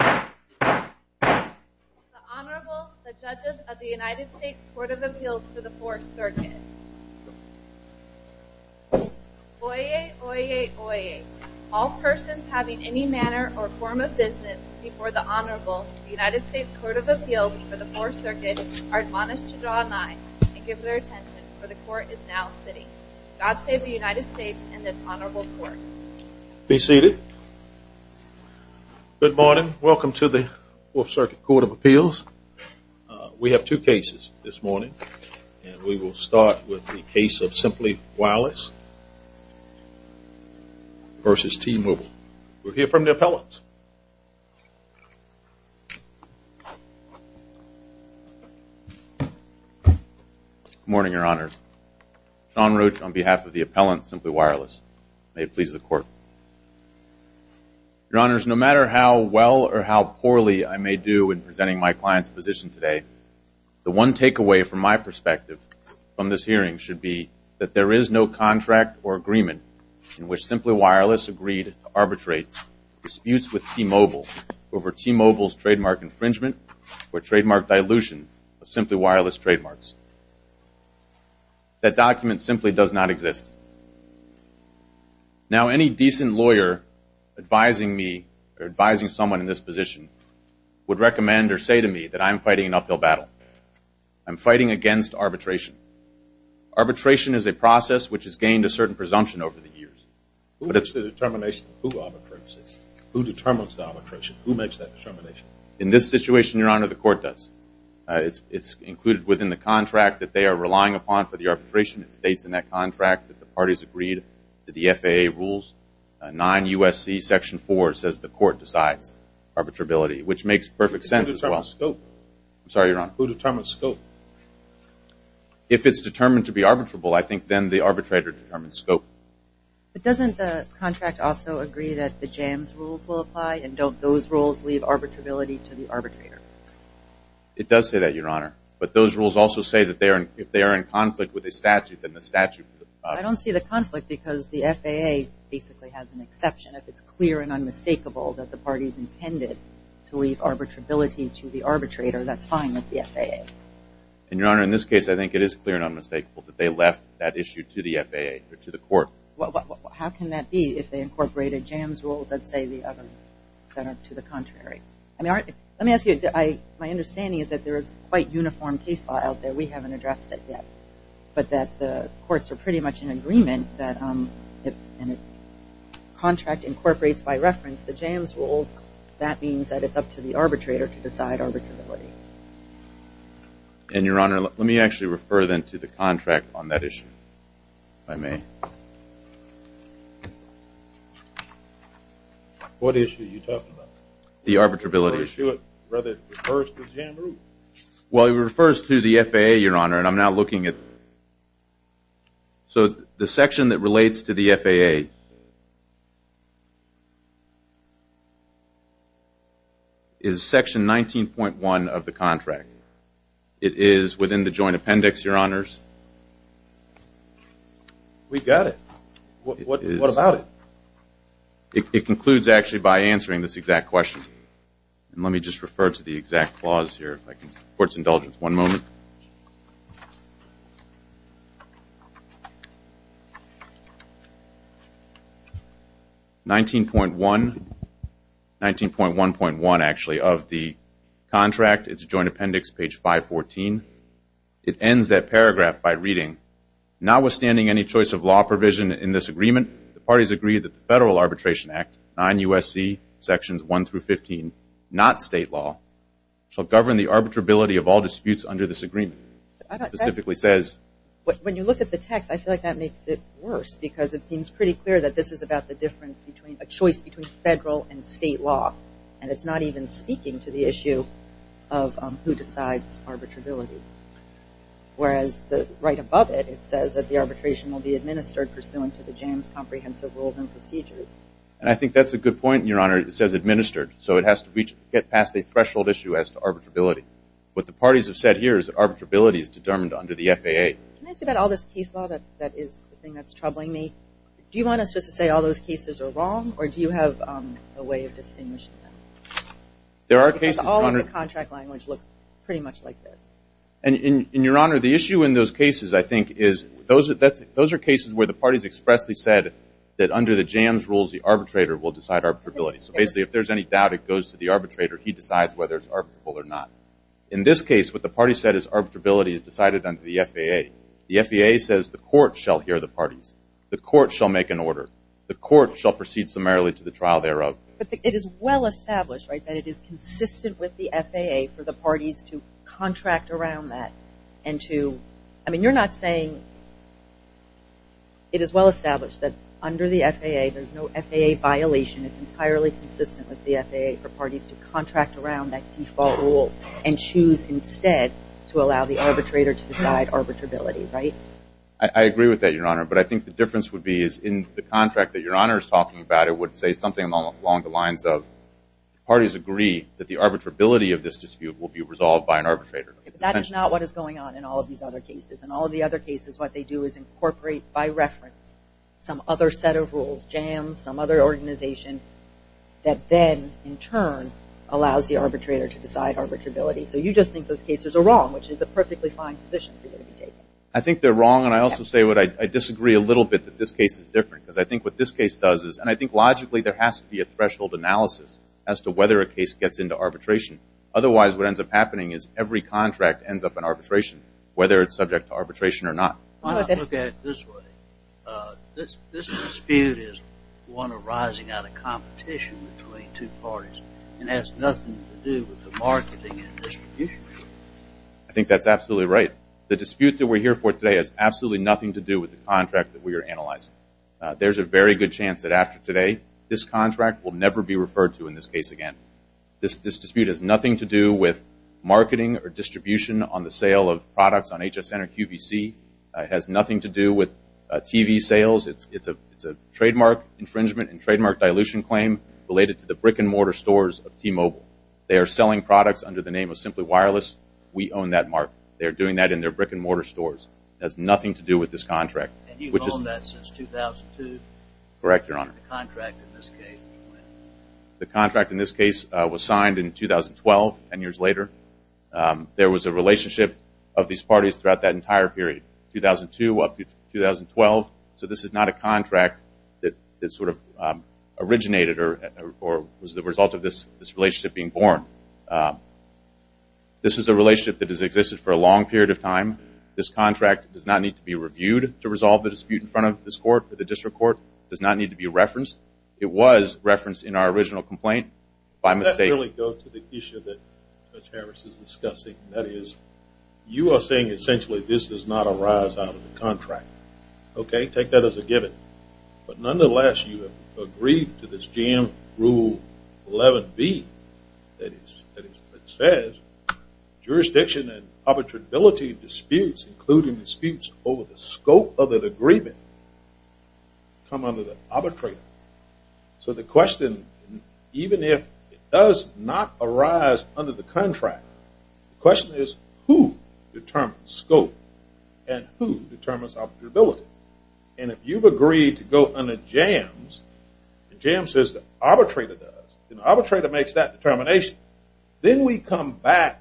The Honorable, the Judges of the United States Court of Appeals for the Fourth Circuit. Oyez, oyez, oyez. All persons having any manner or form of business before the Honorable, the United States Court of Appeals for the Fourth Circuit, are admonished to draw a line and give their attention, for the Court is now sitting. God save the United States and this Honorable Court. Be seated. Good morning. Welcome to the Fourth Circuit Court of Appeals. We have two cases this morning and we will start with the case of Simply Wireless versus T-Mobile. We'll hear from the appellants. Good morning, Your Honors. Sean Roach on behalf of the appellant, Simply Wireless. May it please the Court. Your Honors, no matter how well or how poorly I may do in presenting my client's position today, the one takeaway from my perspective from this hearing should be that there is no contract or agreement in which Simply Wireless agreed to arbitrate disputes with T-Mobile over T-Mobile's trademark infringement or trademark dilution of Simply Wireless trademarks. That document simply does not exist. Now, any decent lawyer advising me or advising someone in this position would recommend or say to me that I'm fighting an uphill battle. I'm fighting against arbitration. Arbitration is a process which has gained a certain presumption over the years. Who makes the determination? Who arbitrates it? Who determines the arbitration? Who makes that determination? In this situation, Your Honor, the Court does. It's included within the contract that they are relying upon for the arbitration. It states in that contract that the parties agreed to the FAA rules. 9 U.S.C. Section 4 says the Court decides arbitrability, which makes perfect sense as well. Who determines scope? I'm sorry, Your Honor. Who determines scope? If it's determined to be arbitrable, I think then the arbitrator determines scope. But doesn't the contract also agree that the JAMS rules will apply? And don't those rules leave arbitrability to the arbitrator? It does say that, Your Honor. But those rules also say that if they are in conflict with a statute, then the statute will apply. I don't see the conflict because the FAA basically has an exception. If it's clear and unmistakable that the parties intended to leave arbitrability to the arbitrator, that's fine with the FAA. And, Your Honor, in this case, I think it is clear and unmistakable that they left that issue to the FAA or to the Court. How can that be if they incorporated JAMS rules that say the other, that are to the contrary? Let me ask you, my understanding is that there is quite uniform case law out there. We haven't addressed it yet. But that the Courts are pretty much in agreement that the contract incorporates by reference the JAMS rules. That means that it's up to the arbitrator to decide arbitrability. And, Your Honor, let me actually refer then to the contract on that issue, if I may. What issue are you talking about? The arbitrability. The issue of whether it refers to the JAMS rules. Well, it refers to the FAA, Your Honor, and I'm now looking at... So, the section that relates to the FAA is section 19.1 of the contract. It is within the joint appendix, Your Honors. We got it. What about it? It concludes, actually, by answering this exact question. Let me just refer to the exact clause here, if I can. Court's indulgence, one moment. 19.1, 19.1.1, actually, of the contract, it's joint appendix, page 514. It ends that paragraph by reading, Notwithstanding any choice of law provision in this agreement, the parties agree that the Federal Arbitration Act, 9 U.S.C., sections 1 through 15, not state law, shall govern the arbitrability of all disputes under this agreement. It specifically says... When you look at the text, I feel like that makes it worse, because it seems pretty clear that this is about the choice between federal and state law, and it's not even speaking to the issue of who decides arbitrability. Whereas, right above it, it says that the arbitration will be administered pursuant to the JAMS comprehensive rules and procedures. And I think that's a good point, Your Honor. It says administered, so it has to get past a threshold issue as to arbitrability. What the parties have said here is that arbitrability is determined under the FAA. Can I say that all this case law, that is the thing that's troubling me, do you want us just to say all those cases are wrong, or do you have a way of distinguishing them? There are cases, Your Honor... And, Your Honor, the issue in those cases, I think, is those are cases where the parties expressly said that under the JAMS rules, the arbitrator will decide arbitrability. So basically, if there's any doubt, it goes to the arbitrator. He decides whether it's arbitrable or not. In this case, what the parties said is arbitrability is decided under the FAA. The FAA says the court shall hear the parties. The court shall make an order. The court shall proceed summarily to the trial thereof. But it is well established, right, that it is consistent with the FAA for the parties to contract around that and to... I mean, you're not saying... It is well established that under the FAA, there's no FAA violation. It's entirely consistent with the FAA for parties to contract around that default rule and choose instead to allow the arbitrator to decide arbitrability, right? I agree with that, Your Honor. But I think the difference would be is in the contract that Your Honor is talking about, I would say something along the lines of parties agree that the arbitrability of this dispute will be resolved by an arbitrator. That is not what is going on in all of these other cases. In all of the other cases, what they do is incorporate by reference some other set of rules, jams, some other organization that then, in turn, allows the arbitrator to decide arbitrability. So you just think those cases are wrong, which is a perfectly fine position for you to be taking. I think they're wrong, and I also say what I disagree a little bit, that this case is different because I think what this case does is... Logically, there has to be a threshold analysis as to whether a case gets into arbitration. Otherwise, what ends up happening is every contract ends up in arbitration, whether it's subject to arbitration or not. Why not look at it this way? This dispute is one arising out of competition between two parties and has nothing to do with the marketing and distribution. I think that's absolutely right. The dispute that we're here for today has absolutely nothing to do with the contract that we are analyzing. There's a very good chance that after today, this contract will never be referred to in this case again. This dispute has nothing to do with marketing or distribution on the sale of products on HSN or QVC. It has nothing to do with TV sales. It's a trademark infringement and trademark dilution claim related to the brick-and-mortar stores of T-Mobile. They are selling products under the name of Simply Wireless. We own that market. They are doing that in their brick-and-mortar stores. It has nothing to do with this contract. And you've owned that since 2002? Correct, Your Honor. The contract in this case? The contract in this case was signed in 2012, 10 years later. There was a relationship of these parties throughout that entire period, 2002 up through 2012. So this is not a contract that sort of originated or was the result of this relationship being born. This contract does not need to be reviewed to resolve the dispute in front of this court. The district court does not need to be referenced. It was referenced in our original complaint by mistake. Let me go to the issue that Judge Harris is discussing. That is, you are saying essentially this does not arise out of the contract. Okay, take that as a given. But nonetheless, you have agreed to this GM Rule 11B that says jurisdiction and arbitrability disputes, including disputes over the scope of an agreement, come under the arbitrator. So the question, even if it does not arise under the contract, the question is who determines scope and who determines arbitrability. And if you've agreed to go under Jams, the Jam says the arbitrator does. The arbitrator makes that determination. Then we come back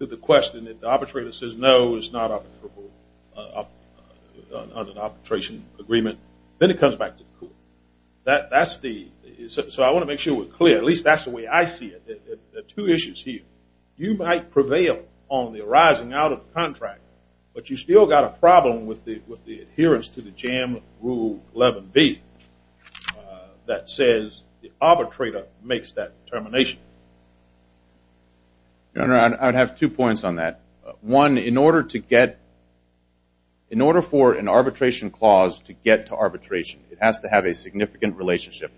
to the question that the arbitrator says no, it's not an arbitration agreement. Then it comes back to the court. So I want to make sure we're clear. At least that's the way I see it. There are two issues here. You might prevail on the arising out of the contract, but you've still got a problem with the adherence to the Jam Rule 11B that says the arbitrator makes that determination. Your Honor, I'd have two points on that. One, in order for an arbitration clause to get to arbitration, it has to have a significant relationship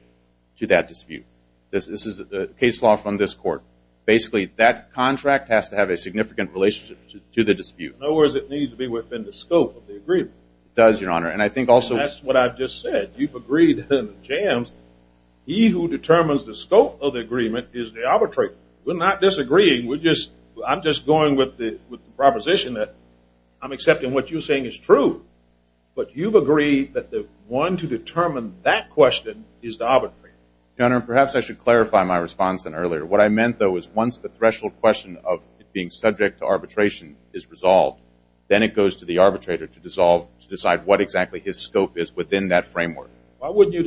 to that dispute. This is a case law from this court. Basically, that contract has to have a significant relationship to the dispute. In other words, it needs to be within the scope of the agreement. It does, Your Honor. And I think also that's what I just said. You've agreed to the Jams. He who determines the scope of the agreement is the arbitrator. We're not disagreeing. I'm just going with the proposition that I'm accepting what you're saying is true. But you've agreed that the one to determine that question is the arbitrator. Your Honor, perhaps I should clarify my response in earlier. What I meant, though, is once the threshold question of being subject to arbitration is resolved, then it goes to the arbitrator to decide what exactly his scope is within that framework. Why wouldn't you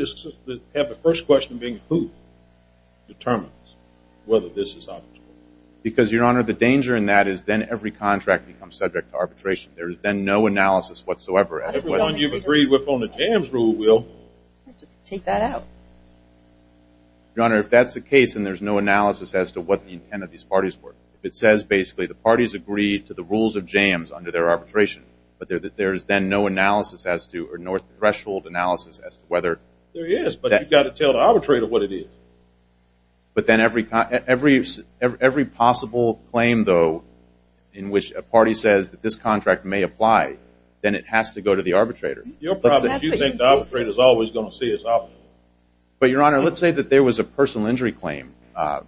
have the first question being who determines whether this is arbitrable? Because, Your Honor, the danger in that is then every contract becomes subject to arbitration. There is then no analysis whatsoever. Everyone you've agreed with on the Jams rule will. Just take that out. Your Honor, if that's the case, then there's no analysis as to what the intent of these parties were. If it says, basically, the parties agreed to the rules of Jams under their arbitration, but there's then no analysis as to or no threshold analysis as to whether. There is, but you've got to tell the arbitrator what it is. But then every possible claim, though, in which a party says that this contract may apply, then it has to go to the arbitrator. Your problem is you think the arbitrator is always going to see it as arbitrable. But, Your Honor, let's say that there was a personal injury claim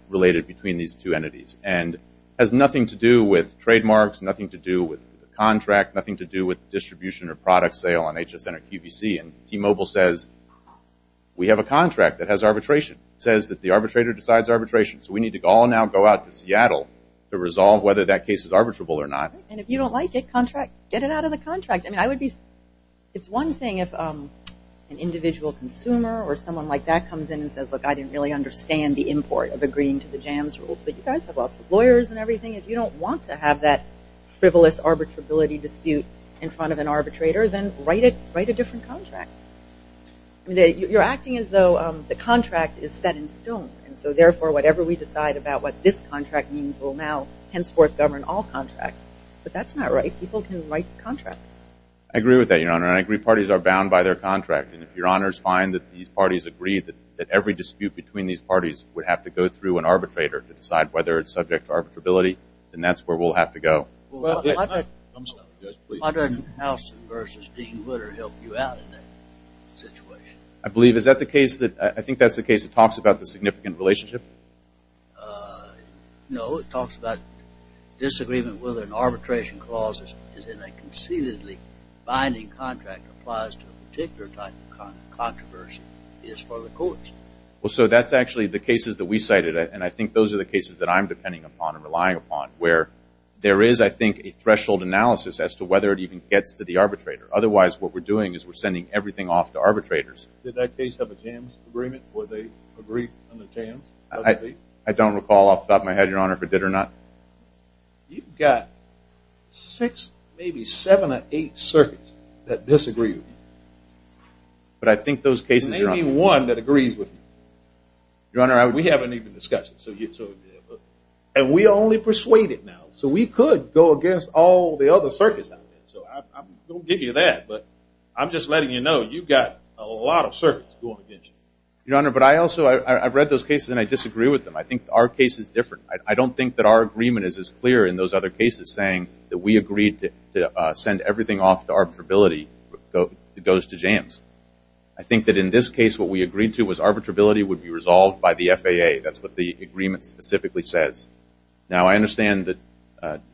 related between these two entities and has nothing to do with trademarks, nothing to do with the contract, nothing to do with distribution or product sale on HSN or QVC. And T-Mobile says, we have a contract that has arbitration. It says that the arbitrator decides arbitration. So we need to all now go out to Seattle to resolve whether that case is arbitrable or not. And if you don't like it, get it out of the contract. I mean, it's one thing if an individual consumer or someone like that comes in and says, look, I didn't really understand the import of agreeing to the JAMS rules. But you guys have lots of lawyers and everything. If you don't want to have that frivolous arbitrability dispute in front of an arbitrator, then write a different contract. You're acting as though the contract is set in stone. And so, therefore, whatever we decide about what this contract means will now henceforth govern all contracts. But that's not right. People can write contracts. I agree with that, Your Honor. And I agree parties are bound by their contract. And if Your Honors find that these parties agree that every dispute between these parties would have to go through an arbitrator to decide whether it's subject to arbitrability, then that's where we'll have to go. Why doesn't Housen versus Dean Witter help you out in that situation? I believe. Is that the case? I think that's the case. It talks about the significant relationship. No. It talks about disagreement whether an arbitration clause is in a conceitedly binding contract that applies to a particular type of controversy is for the courts. Well, so that's actually the cases that we cited, and I think those are the cases that I'm depending upon and relying upon, where there is, I think, a threshold analysis as to whether it even gets to the arbitrator. Otherwise, what we're doing is we're sending everything off to arbitrators. Did that case have a jams agreement where they agreed on the jams? I don't recall off the top of my head, Your Honor, if it did or not. You've got six, maybe seven or eight circuits that disagree with you. But I think those cases are on. Maybe one that agrees with you. Your Honor, I would. We haven't even discussed it. And we only persuade it now. So we could go against all the other circuits out there. So I won't give you that, but I'm just letting you know you've got a lot of circuits going against you. Your Honor, but I also, I've read those cases and I disagree with them. I think our case is different. I don't think that our agreement is as clear in those other cases, saying that we agreed to send everything off to arbitrability. It goes to jams. I think that in this case what we agreed to was arbitrability would be resolved by the FAA. That's what the agreement specifically says. Now, I understand that,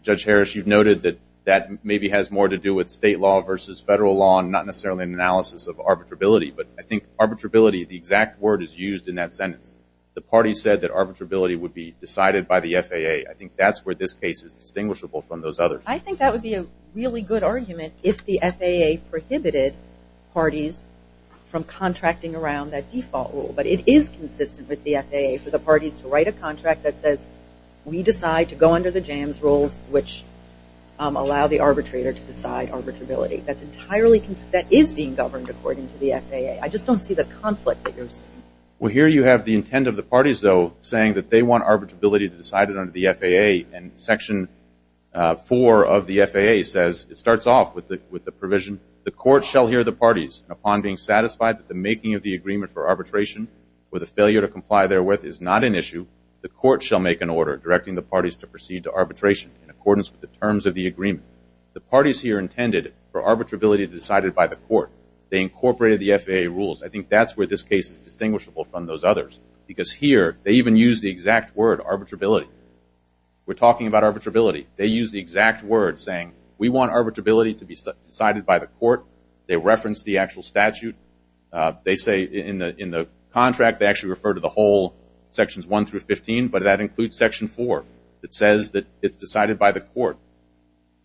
Judge Harris, you've noted that that maybe has more to do with state law versus federal law and not necessarily an analysis of arbitrability. But I think arbitrability, the exact word is used in that sentence. The party said that arbitrability would be decided by the FAA. I think that's where this case is distinguishable from those others. I think that would be a really good argument if the FAA prohibited parties from contracting around that default rule. But it is consistent with the FAA for the parties to write a contract that says we decide to go under the jams rules, which allow the arbitrator to decide arbitrability. That is being governed according to the FAA. I just don't see the conflict that you're seeing. Well, here you have the intent of the parties, though, saying that they want arbitrability decided under the FAA. And Section 4 of the FAA says, it starts off with the provision, the court shall hear the parties upon being satisfied that the making of the agreement for arbitration or the failure to comply therewith is not an issue. The court shall make an order directing the parties to proceed to arbitration in accordance with the terms of the agreement. The parties here intended for arbitrability decided by the court. They incorporated the FAA rules. I think that's where this case is distinguishable from those others. Because here they even use the exact word, arbitrability. We're talking about arbitrability. They use the exact word saying we want arbitrability to be decided by the court. They reference the actual statute. They say in the contract they actually refer to the whole Sections 1 through 15, but that includes Section 4. It says that it's decided by the court.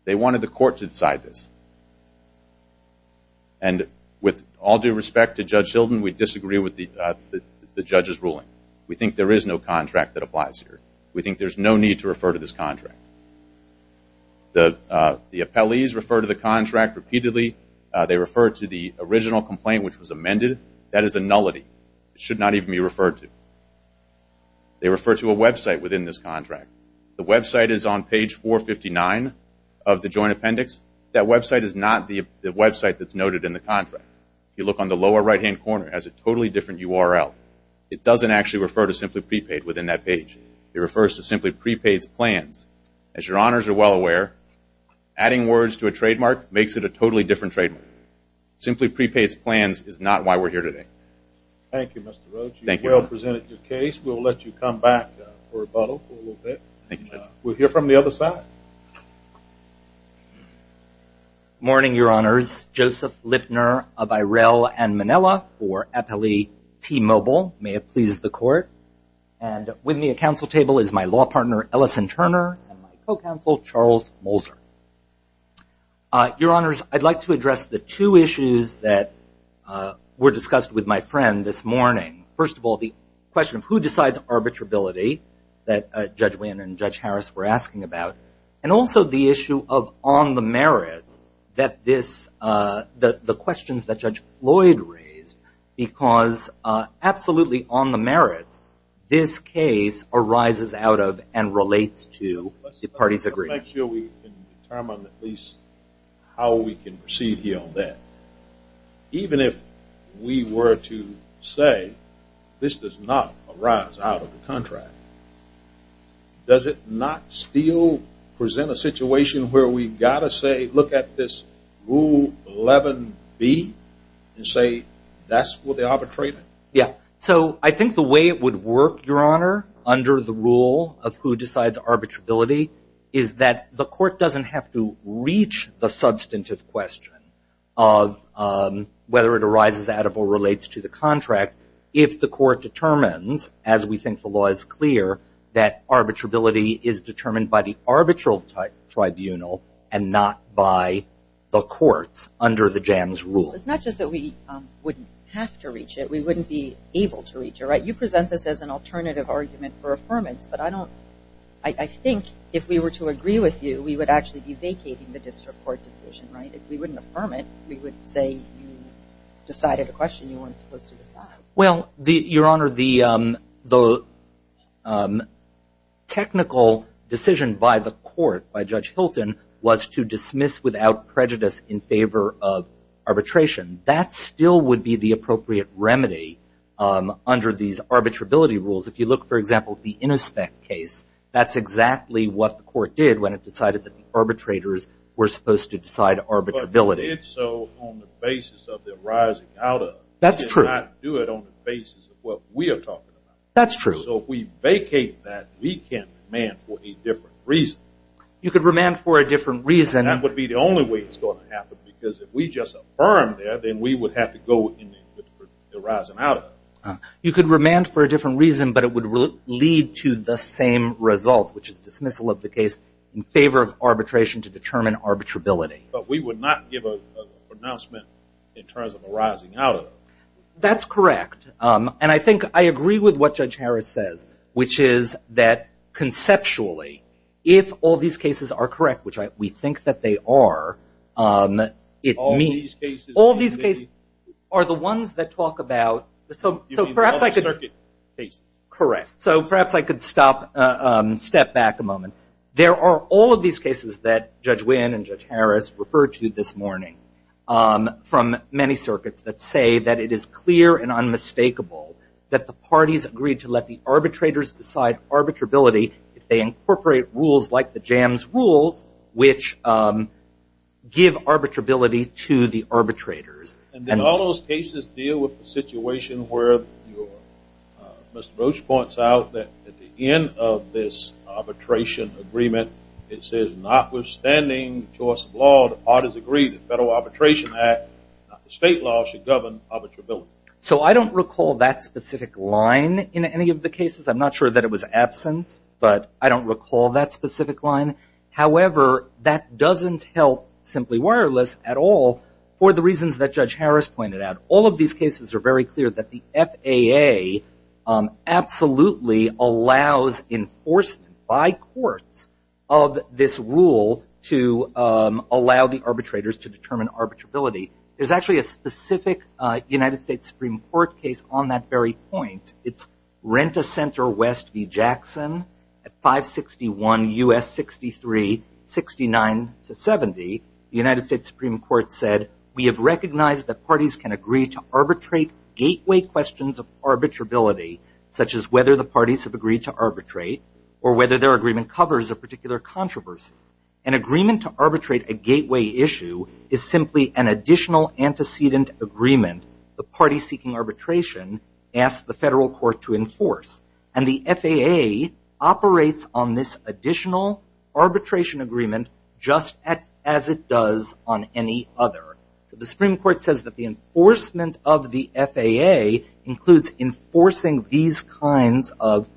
They wanted the court to decide this. And with all due respect to Judge Hilden, we disagree with the judge's ruling. We think there is no contract that applies here. We think there's no need to refer to this contract. The appellees refer to the contract repeatedly. They refer to the original complaint which was amended. That is a nullity. It should not even be referred to. They refer to a website within this contract. The website is on page 459 of the joint appendix. That website is not the website that's noted in the contract. If you look on the lower right-hand corner, it has a totally different URL. It doesn't actually refer to Simply Prepaid within that page. It refers to Simply Prepaid's plans. As your honors are well aware, adding words to a trademark makes it a totally different trademark. Simply Prepaid's plans is not why we're here today. Thank you, Mr. Roach. You've well presented your case. We'll let you come back for rebuttal for a little bit. Thank you, Judge. We'll hear from the other side. Morning, your honors. Joseph Lipner of Irel and Manila for Appellee T-Mobile. May it please the court. And with me at council table is my law partner, Ellison Turner, and my co-counsel, Charles Molzer. Your honors, I'd like to address the two issues that were discussed with my friend this morning. First of all, the question of who decides arbitrability that Judge Wynn and Judge Harris were asking about, and also the issue of on the merits that this the questions that Judge Floyd raised, because absolutely on the merits, this case arises out of and relates to the parties agreeing. Let's make sure we can determine at least how we can proceed here on that. Even if we were to say this does not arise out of the contract, does it not still present a situation where we've got to say look at this Rule 11B and say that's what they're arbitrating? Yeah. So I think the way it would work, your honor, under the rule of who decides arbitrability, is that the court doesn't have to reach the substantive question of whether it arises out of or relates to the contract if the court determines, as we think the law is clear, that arbitrability is determined by the arbitral tribunal and not by the courts under the JAMS rule. It's not just that we wouldn't have to reach it. We wouldn't be able to reach it, right? You present this as an alternative argument for affirmance, but I think if we were to agree with you, we would actually be vacating the district court decision, right? If we wouldn't affirm it, we would say you decided a question you weren't supposed to decide. Well, your honor, the technical decision by the court, by Judge Hilton, was to dismiss without prejudice in favor of arbitration. That still would be the appropriate remedy under these arbitrability rules. If you look, for example, at the Innospec case, that's exactly what the court did when it decided that the arbitrators were supposed to decide arbitrability. But they did so on the basis of their arising out of. That's true. They did not do it on the basis of what we are talking about. That's true. So if we vacate that, we can remand for a different reason. You could remand for a different reason. That would be the only way it's going to happen, because if we just affirm that, then we would have to go with the arising out of. You could remand for a different reason, but it would lead to the same result, which is dismissal of the case in favor of arbitration to determine arbitrability. But we would not give a pronouncement in terms of arising out of. That's correct. And I think I agree with what Judge Harris says, which is that conceptually, if all these cases are correct, which we think that they are, it means all these cases are the ones that talk about the circuit case. Correct. So perhaps I could step back a moment. There are all of these cases that Judge Wynn and Judge Harris referred to this morning from many circuits that say that it is clear and unmistakable that the parties agree to let the arbitrators decide arbitrability if they incorporate rules like the jams rules, which give arbitrability to the arbitrators. And then all those cases deal with the situation where Mr. Roach points out that at the end of this arbitration agreement, it says notwithstanding the choice of law, the parties agree that the Federal Arbitration Act, the state law should govern arbitrability. So I don't recall that specific line in any of the cases. I'm not sure that it was absent, but I don't recall that specific line. However, that doesn't help Simply Wireless at all for the reasons that Judge Harris pointed out. All of these cases are very clear that the FAA absolutely allows enforcement by courts of this rule to allow the arbitrators to determine arbitrability. There's actually a specific United States Supreme Court case on that very point. It's Rent-A-Center West v. Jackson at 561 U.S. 63-69-70. The United States Supreme Court said, we have recognized that parties can agree to arbitrate gateway questions of arbitrability, such as whether the parties have agreed to arbitrate or whether their agreement covers a particular controversy. An agreement to arbitrate a gateway issue is simply an additional antecedent agreement the party seeking arbitration asks the federal court to enforce. And the FAA operates on this additional arbitration agreement just as it does on any other. So the Supreme Court says that the enforcement of the FAA includes enforcing these kinds of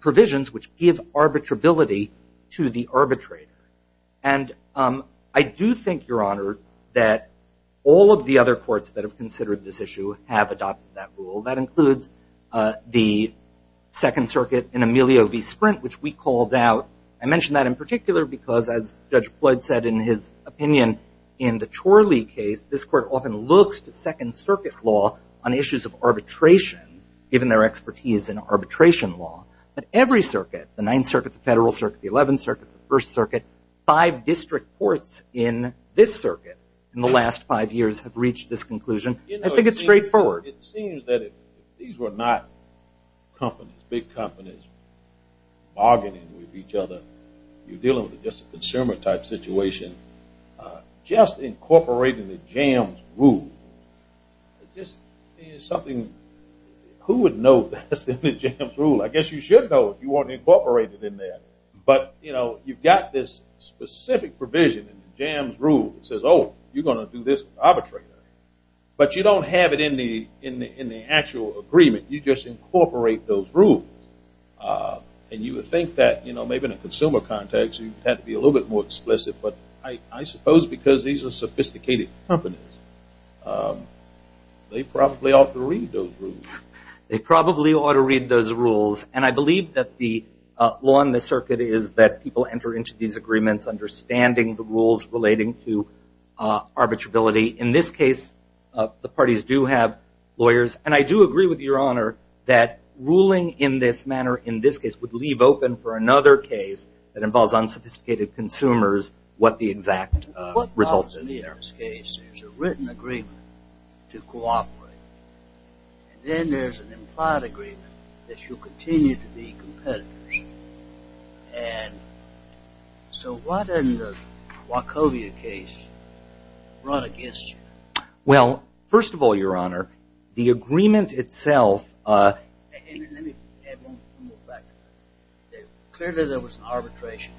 provisions which give arbitrability to the arbitrator. And I do think, Your Honor, that all of the other courts that have considered this issue have adopted that rule. That includes the Second Circuit in Emilio v. Sprint, which we called out. I mention that in particular because, as Judge Floyd said in his opinion in the Chorley case, this court often looks to Second Circuit law on issues of arbitration, given their expertise in arbitration law. But every circuit, the Ninth Circuit, the Federal Circuit, the Eleventh Circuit, the First Circuit, five district courts in this circuit in the last five years have reached this conclusion. I think it's straightforward. It seems that these were not companies, big companies, bargaining with each other. You're dealing with just a consumer-type situation. Just incorporating the jams rule is just something who would know that's in the jams rule? I guess you should know if you want to incorporate it in there. But, you know, you've got this specific provision in the jams rule that says, oh, you're going to do this arbitration. But you don't have it in the actual agreement. You just incorporate those rules. And you would think that, you know, maybe in a consumer context, you'd have to be a little bit more explicit. But I suppose because these are sophisticated companies, they probably ought to read those rules. They probably ought to read those rules. And I believe that the law in the circuit is that people enter into these agreements understanding the rules relating to arbitrability. In this case, the parties do have lawyers. And I do agree with Your Honor that ruling in this manner, in this case, would leave open for another case that involves unsophisticated consumers what the exact results are. In the Aram's case, there's a written agreement to cooperate. And then there's an implied agreement that you'll continue to be competitive. And so why doesn't the Wachovia case run against you? Well, first of all, Your Honor, the agreement itself. Let me add one more factor. Clearly, there was an arbitration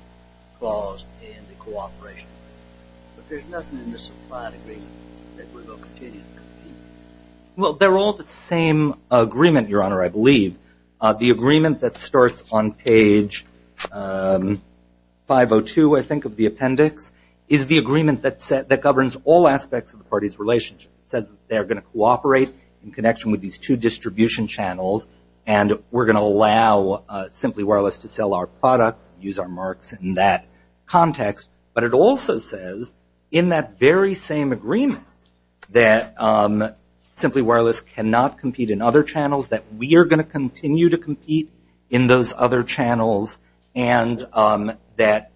clause in the cooperation. But there's nothing in this implied agreement that we're going to continue to be competitive. Well, they're all the same agreement, Your Honor, I believe. The agreement that starts on page 502, I think, of the appendix, is the agreement that governs all aspects of the parties' relationship. It says they are going to cooperate in connection with these two distribution channels and we're going to allow Simply Wireless to sell our products, use our marks in that context. But it also says in that very same agreement that Simply Wireless cannot compete in other channels, that we are going to continue to compete in those other channels, and that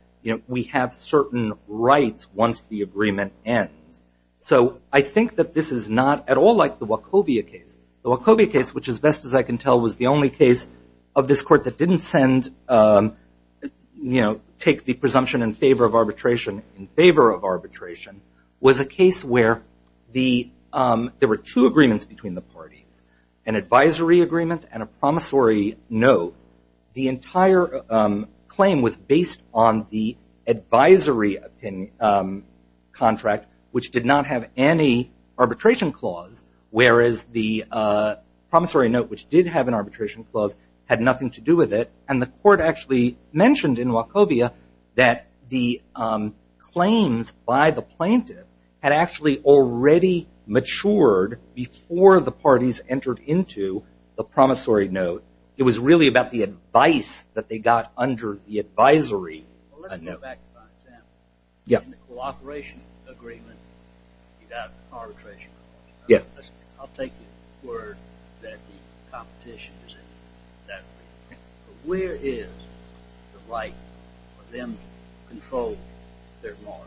we have certain rights once the agreement ends. So I think that this is not at all like the Wachovia case. The Wachovia case, which, as best as I can tell, was the only case of this Court that didn't take the presumption in favor of arbitration in favor of arbitration, was a case where there were two agreements between the parties. An advisory agreement and a promissory note. The entire claim was based on the advisory contract, which did not have any arbitration clause, whereas the promissory note, which did have an arbitration clause, had nothing to do with it. And the Court actually mentioned in Wachovia that the claims by the plaintiff had actually already matured before the parties entered into the promissory note. It was really about the advice that they got under the advisory. Let's go back to my example. In the cooperation agreement, you got arbitration. I'll take your word that the competition is in that agreement. But where is the right for them to control their law?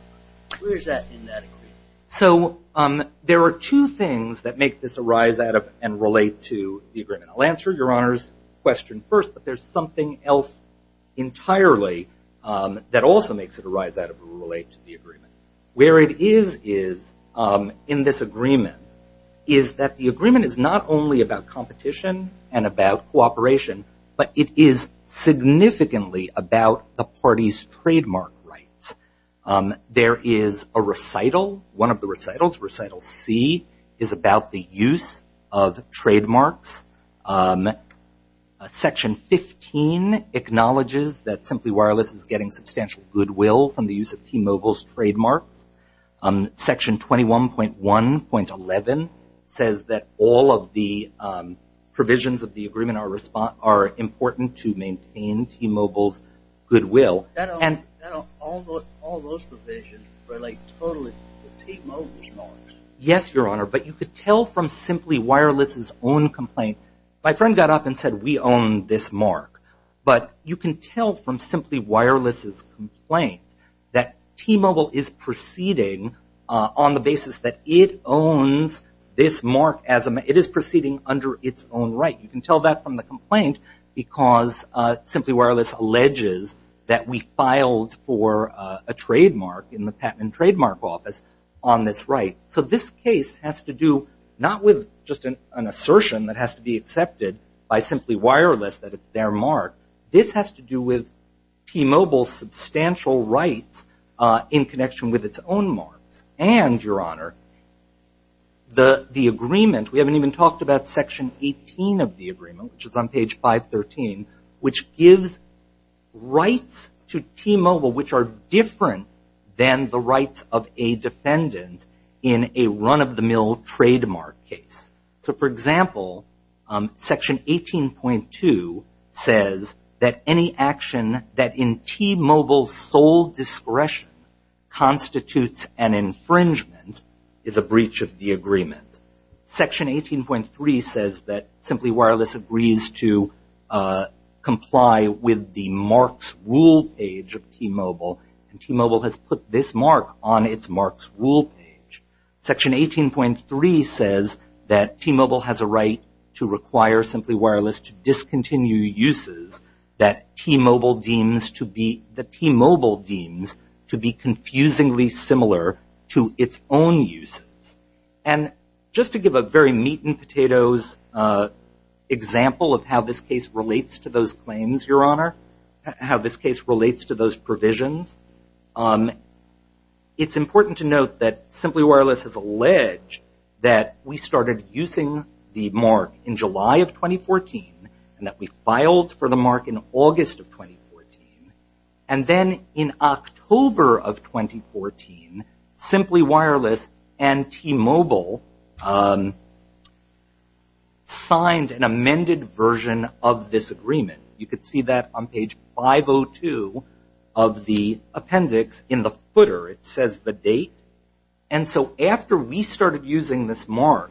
Where is that in that agreement? So there are two things that make this arise out of and relate to the agreement. I'll answer Your Honor's question first, but there's something else entirely that also makes it arise out of and relate to the agreement. Where it is in this agreement is that the agreement is not only about competition and about cooperation, but it is significantly about the parties' trademark rights. There is a recital. One of the recitals, Recital C, is about the use of trademarks. Section 15 acknowledges that Simply Wireless is getting substantial goodwill from the use of T-Mobile's trademarks. Section 21.1.11 says that all of the provisions of the agreement are important to maintain T-Mobile's goodwill. All those provisions relate totally to T-Mobile's marks. Yes, Your Honor, but you could tell from Simply Wireless's own complaint. My friend got up and said, we own this mark. But you can tell from Simply Wireless's complaint that T-Mobile is proceeding on the basis that it owns this mark. It is proceeding under its own right. You can tell that from the complaint because Simply Wireless alleges that we filed for a trademark in the Patent and Trademark Office on this right. So this case has to do not with just an assertion that has to be accepted by Simply Wireless that it's their mark. This has to do with T-Mobile's substantial rights in connection with its own marks. And, Your Honor, the agreement, we haven't even talked about Section 18 of the agreement, which is on page 513, which gives rights to T-Mobile which are different than the rights of a defendant in a run-of-the-mill trademark case. So, for example, Section 18.2 says that any action that in T-Mobile's sole discretion constitutes an infringement is a breach of the agreement. Section 18.3 says that Simply Wireless agrees to comply with the marks rule page of T-Mobile. And T-Mobile has put this mark on its marks rule page. Section 18.3 says that T-Mobile has a right to require Simply Wireless to discontinue uses that T-Mobile deems to be confusingly similar to its own uses. And just to give a very meat and potatoes example of how this case relates to those claims, Your Honor, how this case relates to those provisions, it's important to note that Simply Wireless has alleged that we started using the mark in July of 2014 and that we filed for the mark in August of 2014. And then in October of 2014, Simply Wireless and T-Mobile signed an amended version of this agreement. You can see that on page 502 of the appendix in the footer. It says the date. And so after we started using this mark,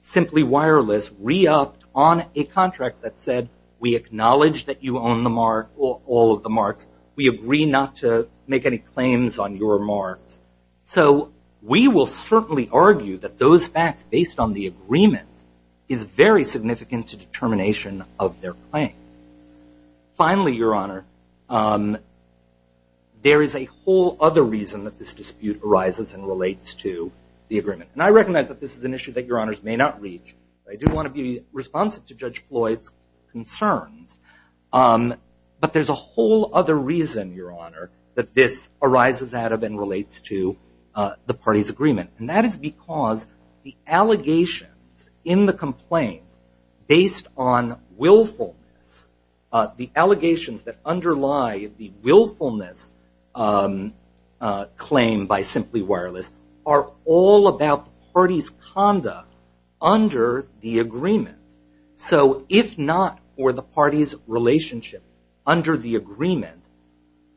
Simply Wireless re-upped on a contract that said, we acknowledge that you own all of the marks. We agree not to make any claims on your marks. So we will certainly argue that those facts, based on the agreement, is very significant to determination of their claim. Finally, Your Honor, there is a whole other reason that this dispute arises and relates to the agreement. And I recognize that this is an issue that Your Honors may not reach. I do want to be responsive to Judge Floyd's concerns. But there's a whole other reason, Your Honor, that this arises out of and relates to the party's agreement. And that is because the allegations in the complaint, based on willfulness, the allegations that underlie the willfulness claim by Simply Wireless, are all about the party's conduct under the agreement. So if not for the party's relationship under the agreement,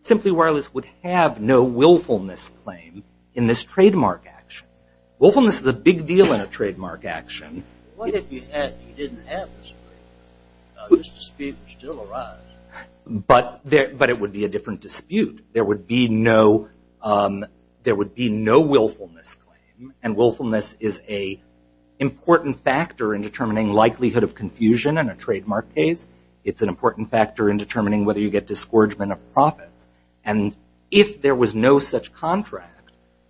Simply Wireless would have no willfulness claim in this trademark action. Willfulness is a big deal in a trademark action. What if you didn't have this agreement? This dispute would still arise. But it would be a different dispute. There would be no willfulness claim. And willfulness is an important factor in determining likelihood of confusion in a trademark case. It's an important factor in determining whether you get disgorgement of profits. And if there was no such contract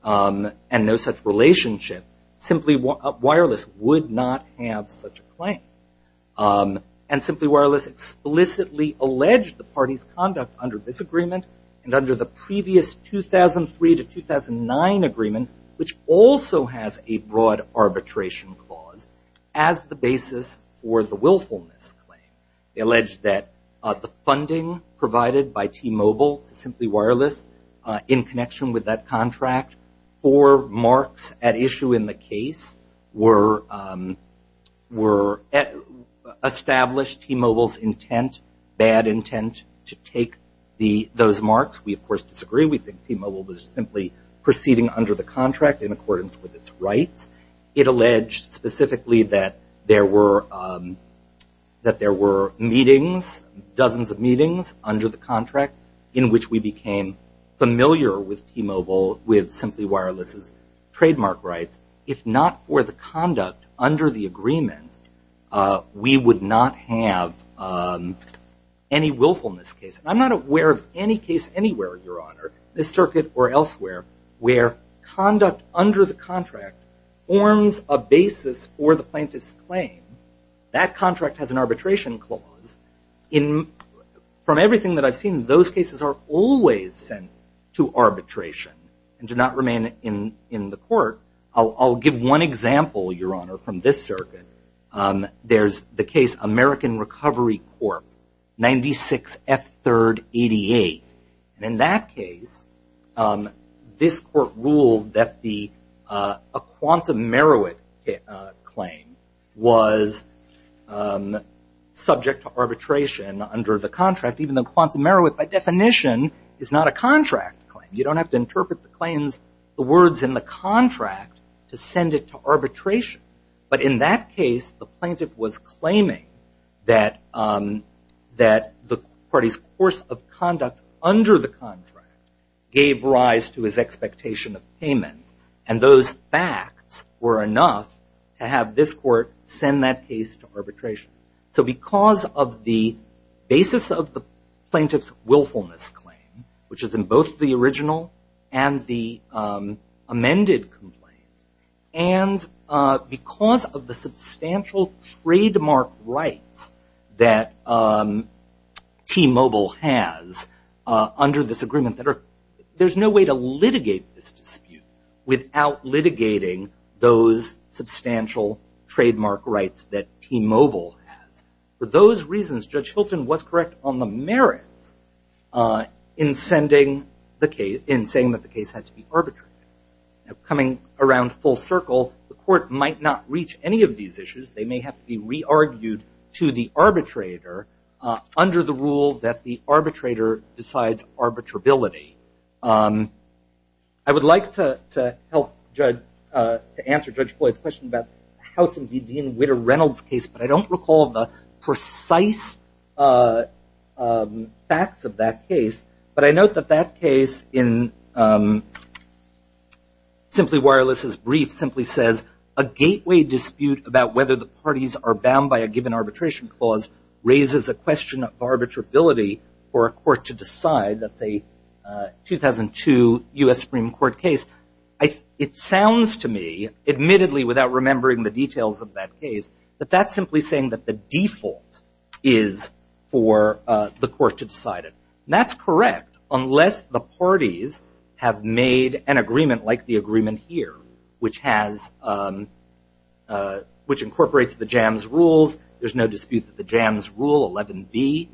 and no such relationship, Simply Wireless would not have such a claim. And Simply Wireless explicitly alleged the party's conduct under this agreement and under the previous 2003 to 2009 agreement, which also has a broad arbitration clause as the basis for the willfulness claim. They alleged that the funding provided by T-Mobile to Simply Wireless in connection with that contract for marks at issue in the case were established T-Mobile's intent, bad intent, to take those marks. We, of course, disagree. We think T-Mobile was simply proceeding under the contract in accordance with its rights. It alleged specifically that there were meetings, dozens of meetings, under the contract in which we became familiar with T-Mobile with Simply Wireless's trademark rights. If not for the conduct under the agreement, we would not have any willfulness case. I'm not aware of any case anywhere, Your Honor, this circuit or elsewhere, where conduct under the contract forms a basis for the plaintiff's claim. That contract has an arbitration clause. From everything that I've seen, those cases are always sent to arbitration and do not remain in the court. I'll give one example, Your Honor, from this circuit. There's the case American Recovery Corp., 96F3rd88. In that case, this court ruled that a quantum Merowith claim was subject to arbitration under the contract, even though quantum Merowith by definition is not a contract claim. You don't have to interpret the claims, the words in the contract, to send it to arbitration. But in that case, the plaintiff was claiming that the party's course of conduct under the contract gave rise to his expectation of payment. And those facts were enough to have this court send that case to arbitration. So because of the basis of the plaintiff's willfulness claim, which is in both the original and the amended complaint, and because of the substantial trademark rights that T-Mobile has under this agreement, there's no way to litigate this dispute without litigating those substantial trademark rights that T-Mobile has. For those reasons, Judge Hilton was correct on the merits in saying that the case had to be arbitrated. Now, coming around full circle, the court might not reach any of these issues. They may have to be re-argued to the arbitrator under the rule that the arbitrator decides arbitrability. I would like to help answer Judge Floyd's question about the House v. Dean Witter Reynolds case, but I don't recall the precise facts of that case. But I note that that case in Simply Wireless's brief simply says, a gateway dispute about whether the parties are bound by a given arbitration clause raises a question of arbitrability for a court to decide that the 2002 U.S. Supreme Court case. It sounds to me, admittedly without remembering the details of that case, that that's simply saying that the default is for the court to decide it. That's correct, unless the parties have made an agreement like the agreement here, which incorporates the JAMS rules. There's no dispute that the JAMS rule 11b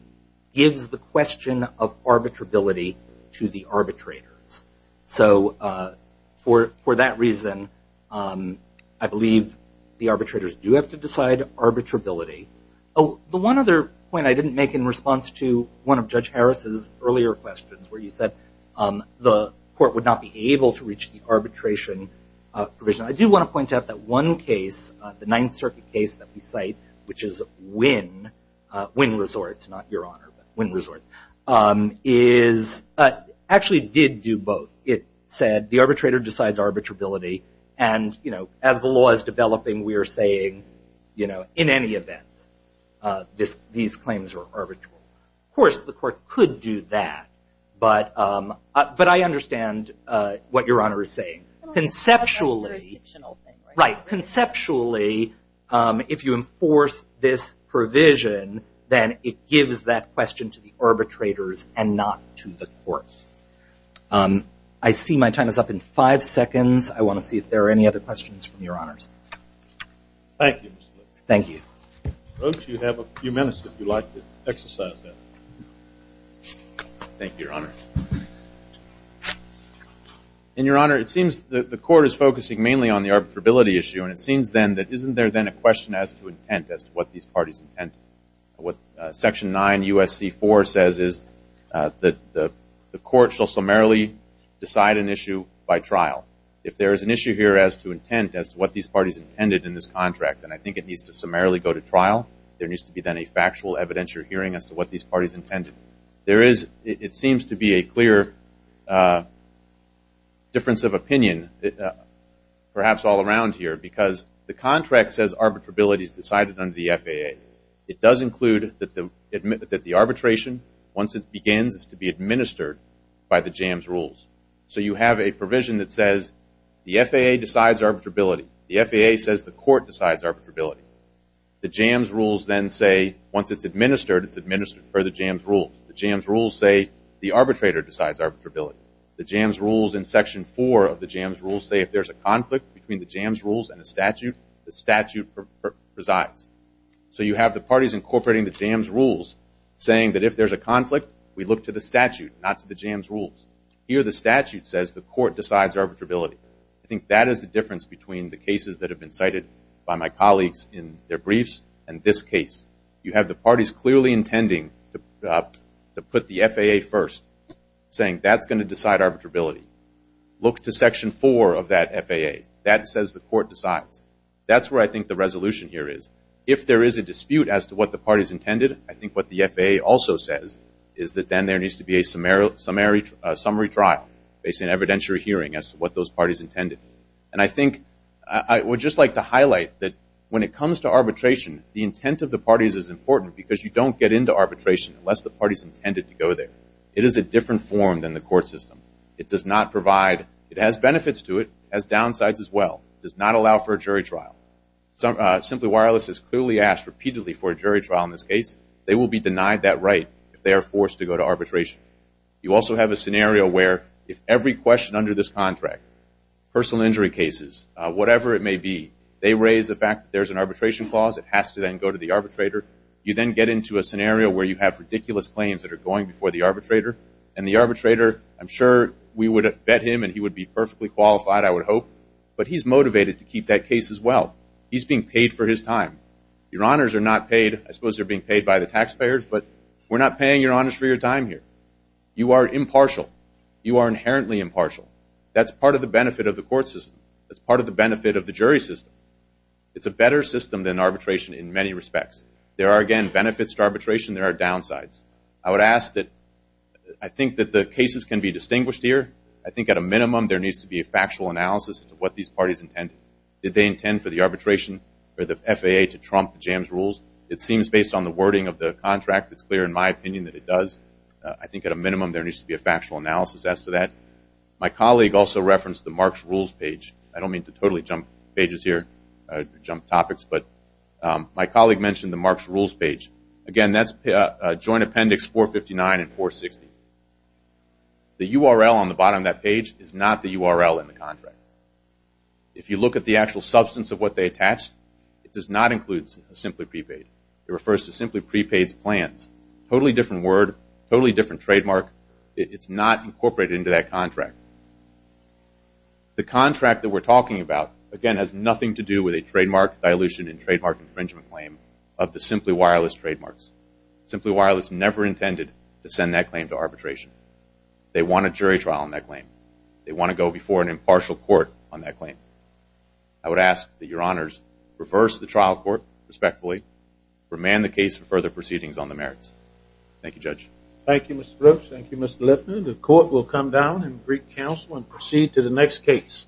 gives the question of arbitrability to the arbitrators. So for that reason, I believe the arbitrators do have to decide arbitrability. Oh, the one other point I didn't make in response to one of Judge Harris's earlier questions where he said the court would not be able to reach the arbitration provision. I do want to point out that one case, the Ninth Circuit case that we cite, which is Wynn Resorts, not Your Honor, but Wynn Resorts, actually did do both. It said the arbitrator decides arbitrability, and as the law is developing, we are saying in any event, these claims are arbitrable. Of course, the court could do that, but I understand what Your Honor is saying. Conceptually, if you enforce this provision, then it gives that question to the arbitrators and not to the court. I see my time is up in five seconds. I want to see if there are any other questions from Your Honors. Thank you, Mr. Lippert. Thank you. Roach, you have a few minutes if you'd like to exercise that. Thank you, Your Honor. In Your Honor, it seems that the court is focusing mainly on the arbitrability issue, and it seems then that isn't there then a question as to intent, as to what these parties intend? What Section 9 U.S.C. 4 says is that the court shall summarily decide an issue by trial. If there is an issue here as to intent, as to what these parties intended in this contract, and I think it needs to summarily go to trial, there needs to be then a factual evidence you're hearing as to what these parties intended. It seems to be a clear difference of opinion perhaps all around here because the contract says arbitrability is decided under the FAA. It does include that the arbitration, once it begins, is to be administered by the JAMS rules. So you have a provision that says the FAA decides arbitrability. The FAA says the court decides arbitrability. The JAMS rules then say once it's administered, it's administered per the JAMS rules. The JAMS rules say the arbitrator decides arbitrability. The JAMS rules in Section 4 of the JAMS rules say if there's a conflict between the JAMS rules and the statute, the statute presides. So you have the parties incorporating the JAMS rules saying that if there's a conflict, we look to the statute, not to the JAMS rules. Here the statute says the court decides arbitrability. I think that is the difference between the cases that have been cited by my colleagues in their briefs and this case. You have the parties clearly intending to put the FAA first, saying that's going to decide arbitrability. Look to Section 4 of that FAA. That says the court decides. That's where I think the resolution here is. If there is a dispute as to what the parties intended, I think what the FAA also says is that then there needs to be a summary trial based on evidentiary hearing as to what those parties intended. And I think I would just like to highlight that when it comes to arbitration, the intent of the parties is important because you don't get into arbitration unless the parties intended to go there. It is a different form than the court system. It does not provide – it has benefits to it. It has downsides as well. It does not allow for a jury trial. Simply Wireless has clearly asked repeatedly for a jury trial in this case. They will be denied that right if they are forced to go to arbitration. You also have a scenario where if every question under this contract, personal injury cases, whatever it may be, they raise the fact that there's an arbitration clause, it has to then go to the arbitrator. You then get into a scenario where you have ridiculous claims that are going before the arbitrator, and the arbitrator, I'm sure we would have bet him and he would be perfectly qualified, I would hope, but he's motivated to keep that case as well. He's being paid for his time. Your honors are not paid. I suppose they're being paid by the taxpayers, but we're not paying your honors for your time here. You are impartial. You are inherently impartial. That's part of the benefit of the court system. That's part of the benefit of the jury system. It's a better system than arbitration in many respects. There are, again, benefits to arbitration. There are downsides. I would ask that – I think that the cases can be distinguished here. I think at a minimum there needs to be a factual analysis of what these parties intended. Did they intend for the arbitration or the FAA to trump the jams rules? It seems based on the wording of the contract, it's clear in my opinion that it does. I think at a minimum there needs to be a factual analysis as to that. My colleague also referenced the Marks Rules page. I don't mean to totally jump pages here, jump topics, but my colleague mentioned the Marks Rules page. Again, that's Joint Appendix 459 and 460. The URL on the bottom of that page is not the URL in the contract. If you look at the actual substance of what they attached, it does not include a simply prepaid. It refers to simply prepaid plans. Totally different word, totally different trademark. It's not incorporated into that contract. The contract that we're talking about, again, has nothing to do with a trademark dilution and trademark infringement claim of the Simply Wireless trademarks. Simply Wireless never intended to send that claim to arbitration. They want a jury trial on that claim. They want to go before an impartial court on that claim. I would ask that your honors reverse the trial court respectfully, remand the case for further proceedings on the merits. Thank you, Judge. Thank you, Mr. Brooks. Thank you, Mr. Lipman. The court will come down and greet counsel and proceed to the next case.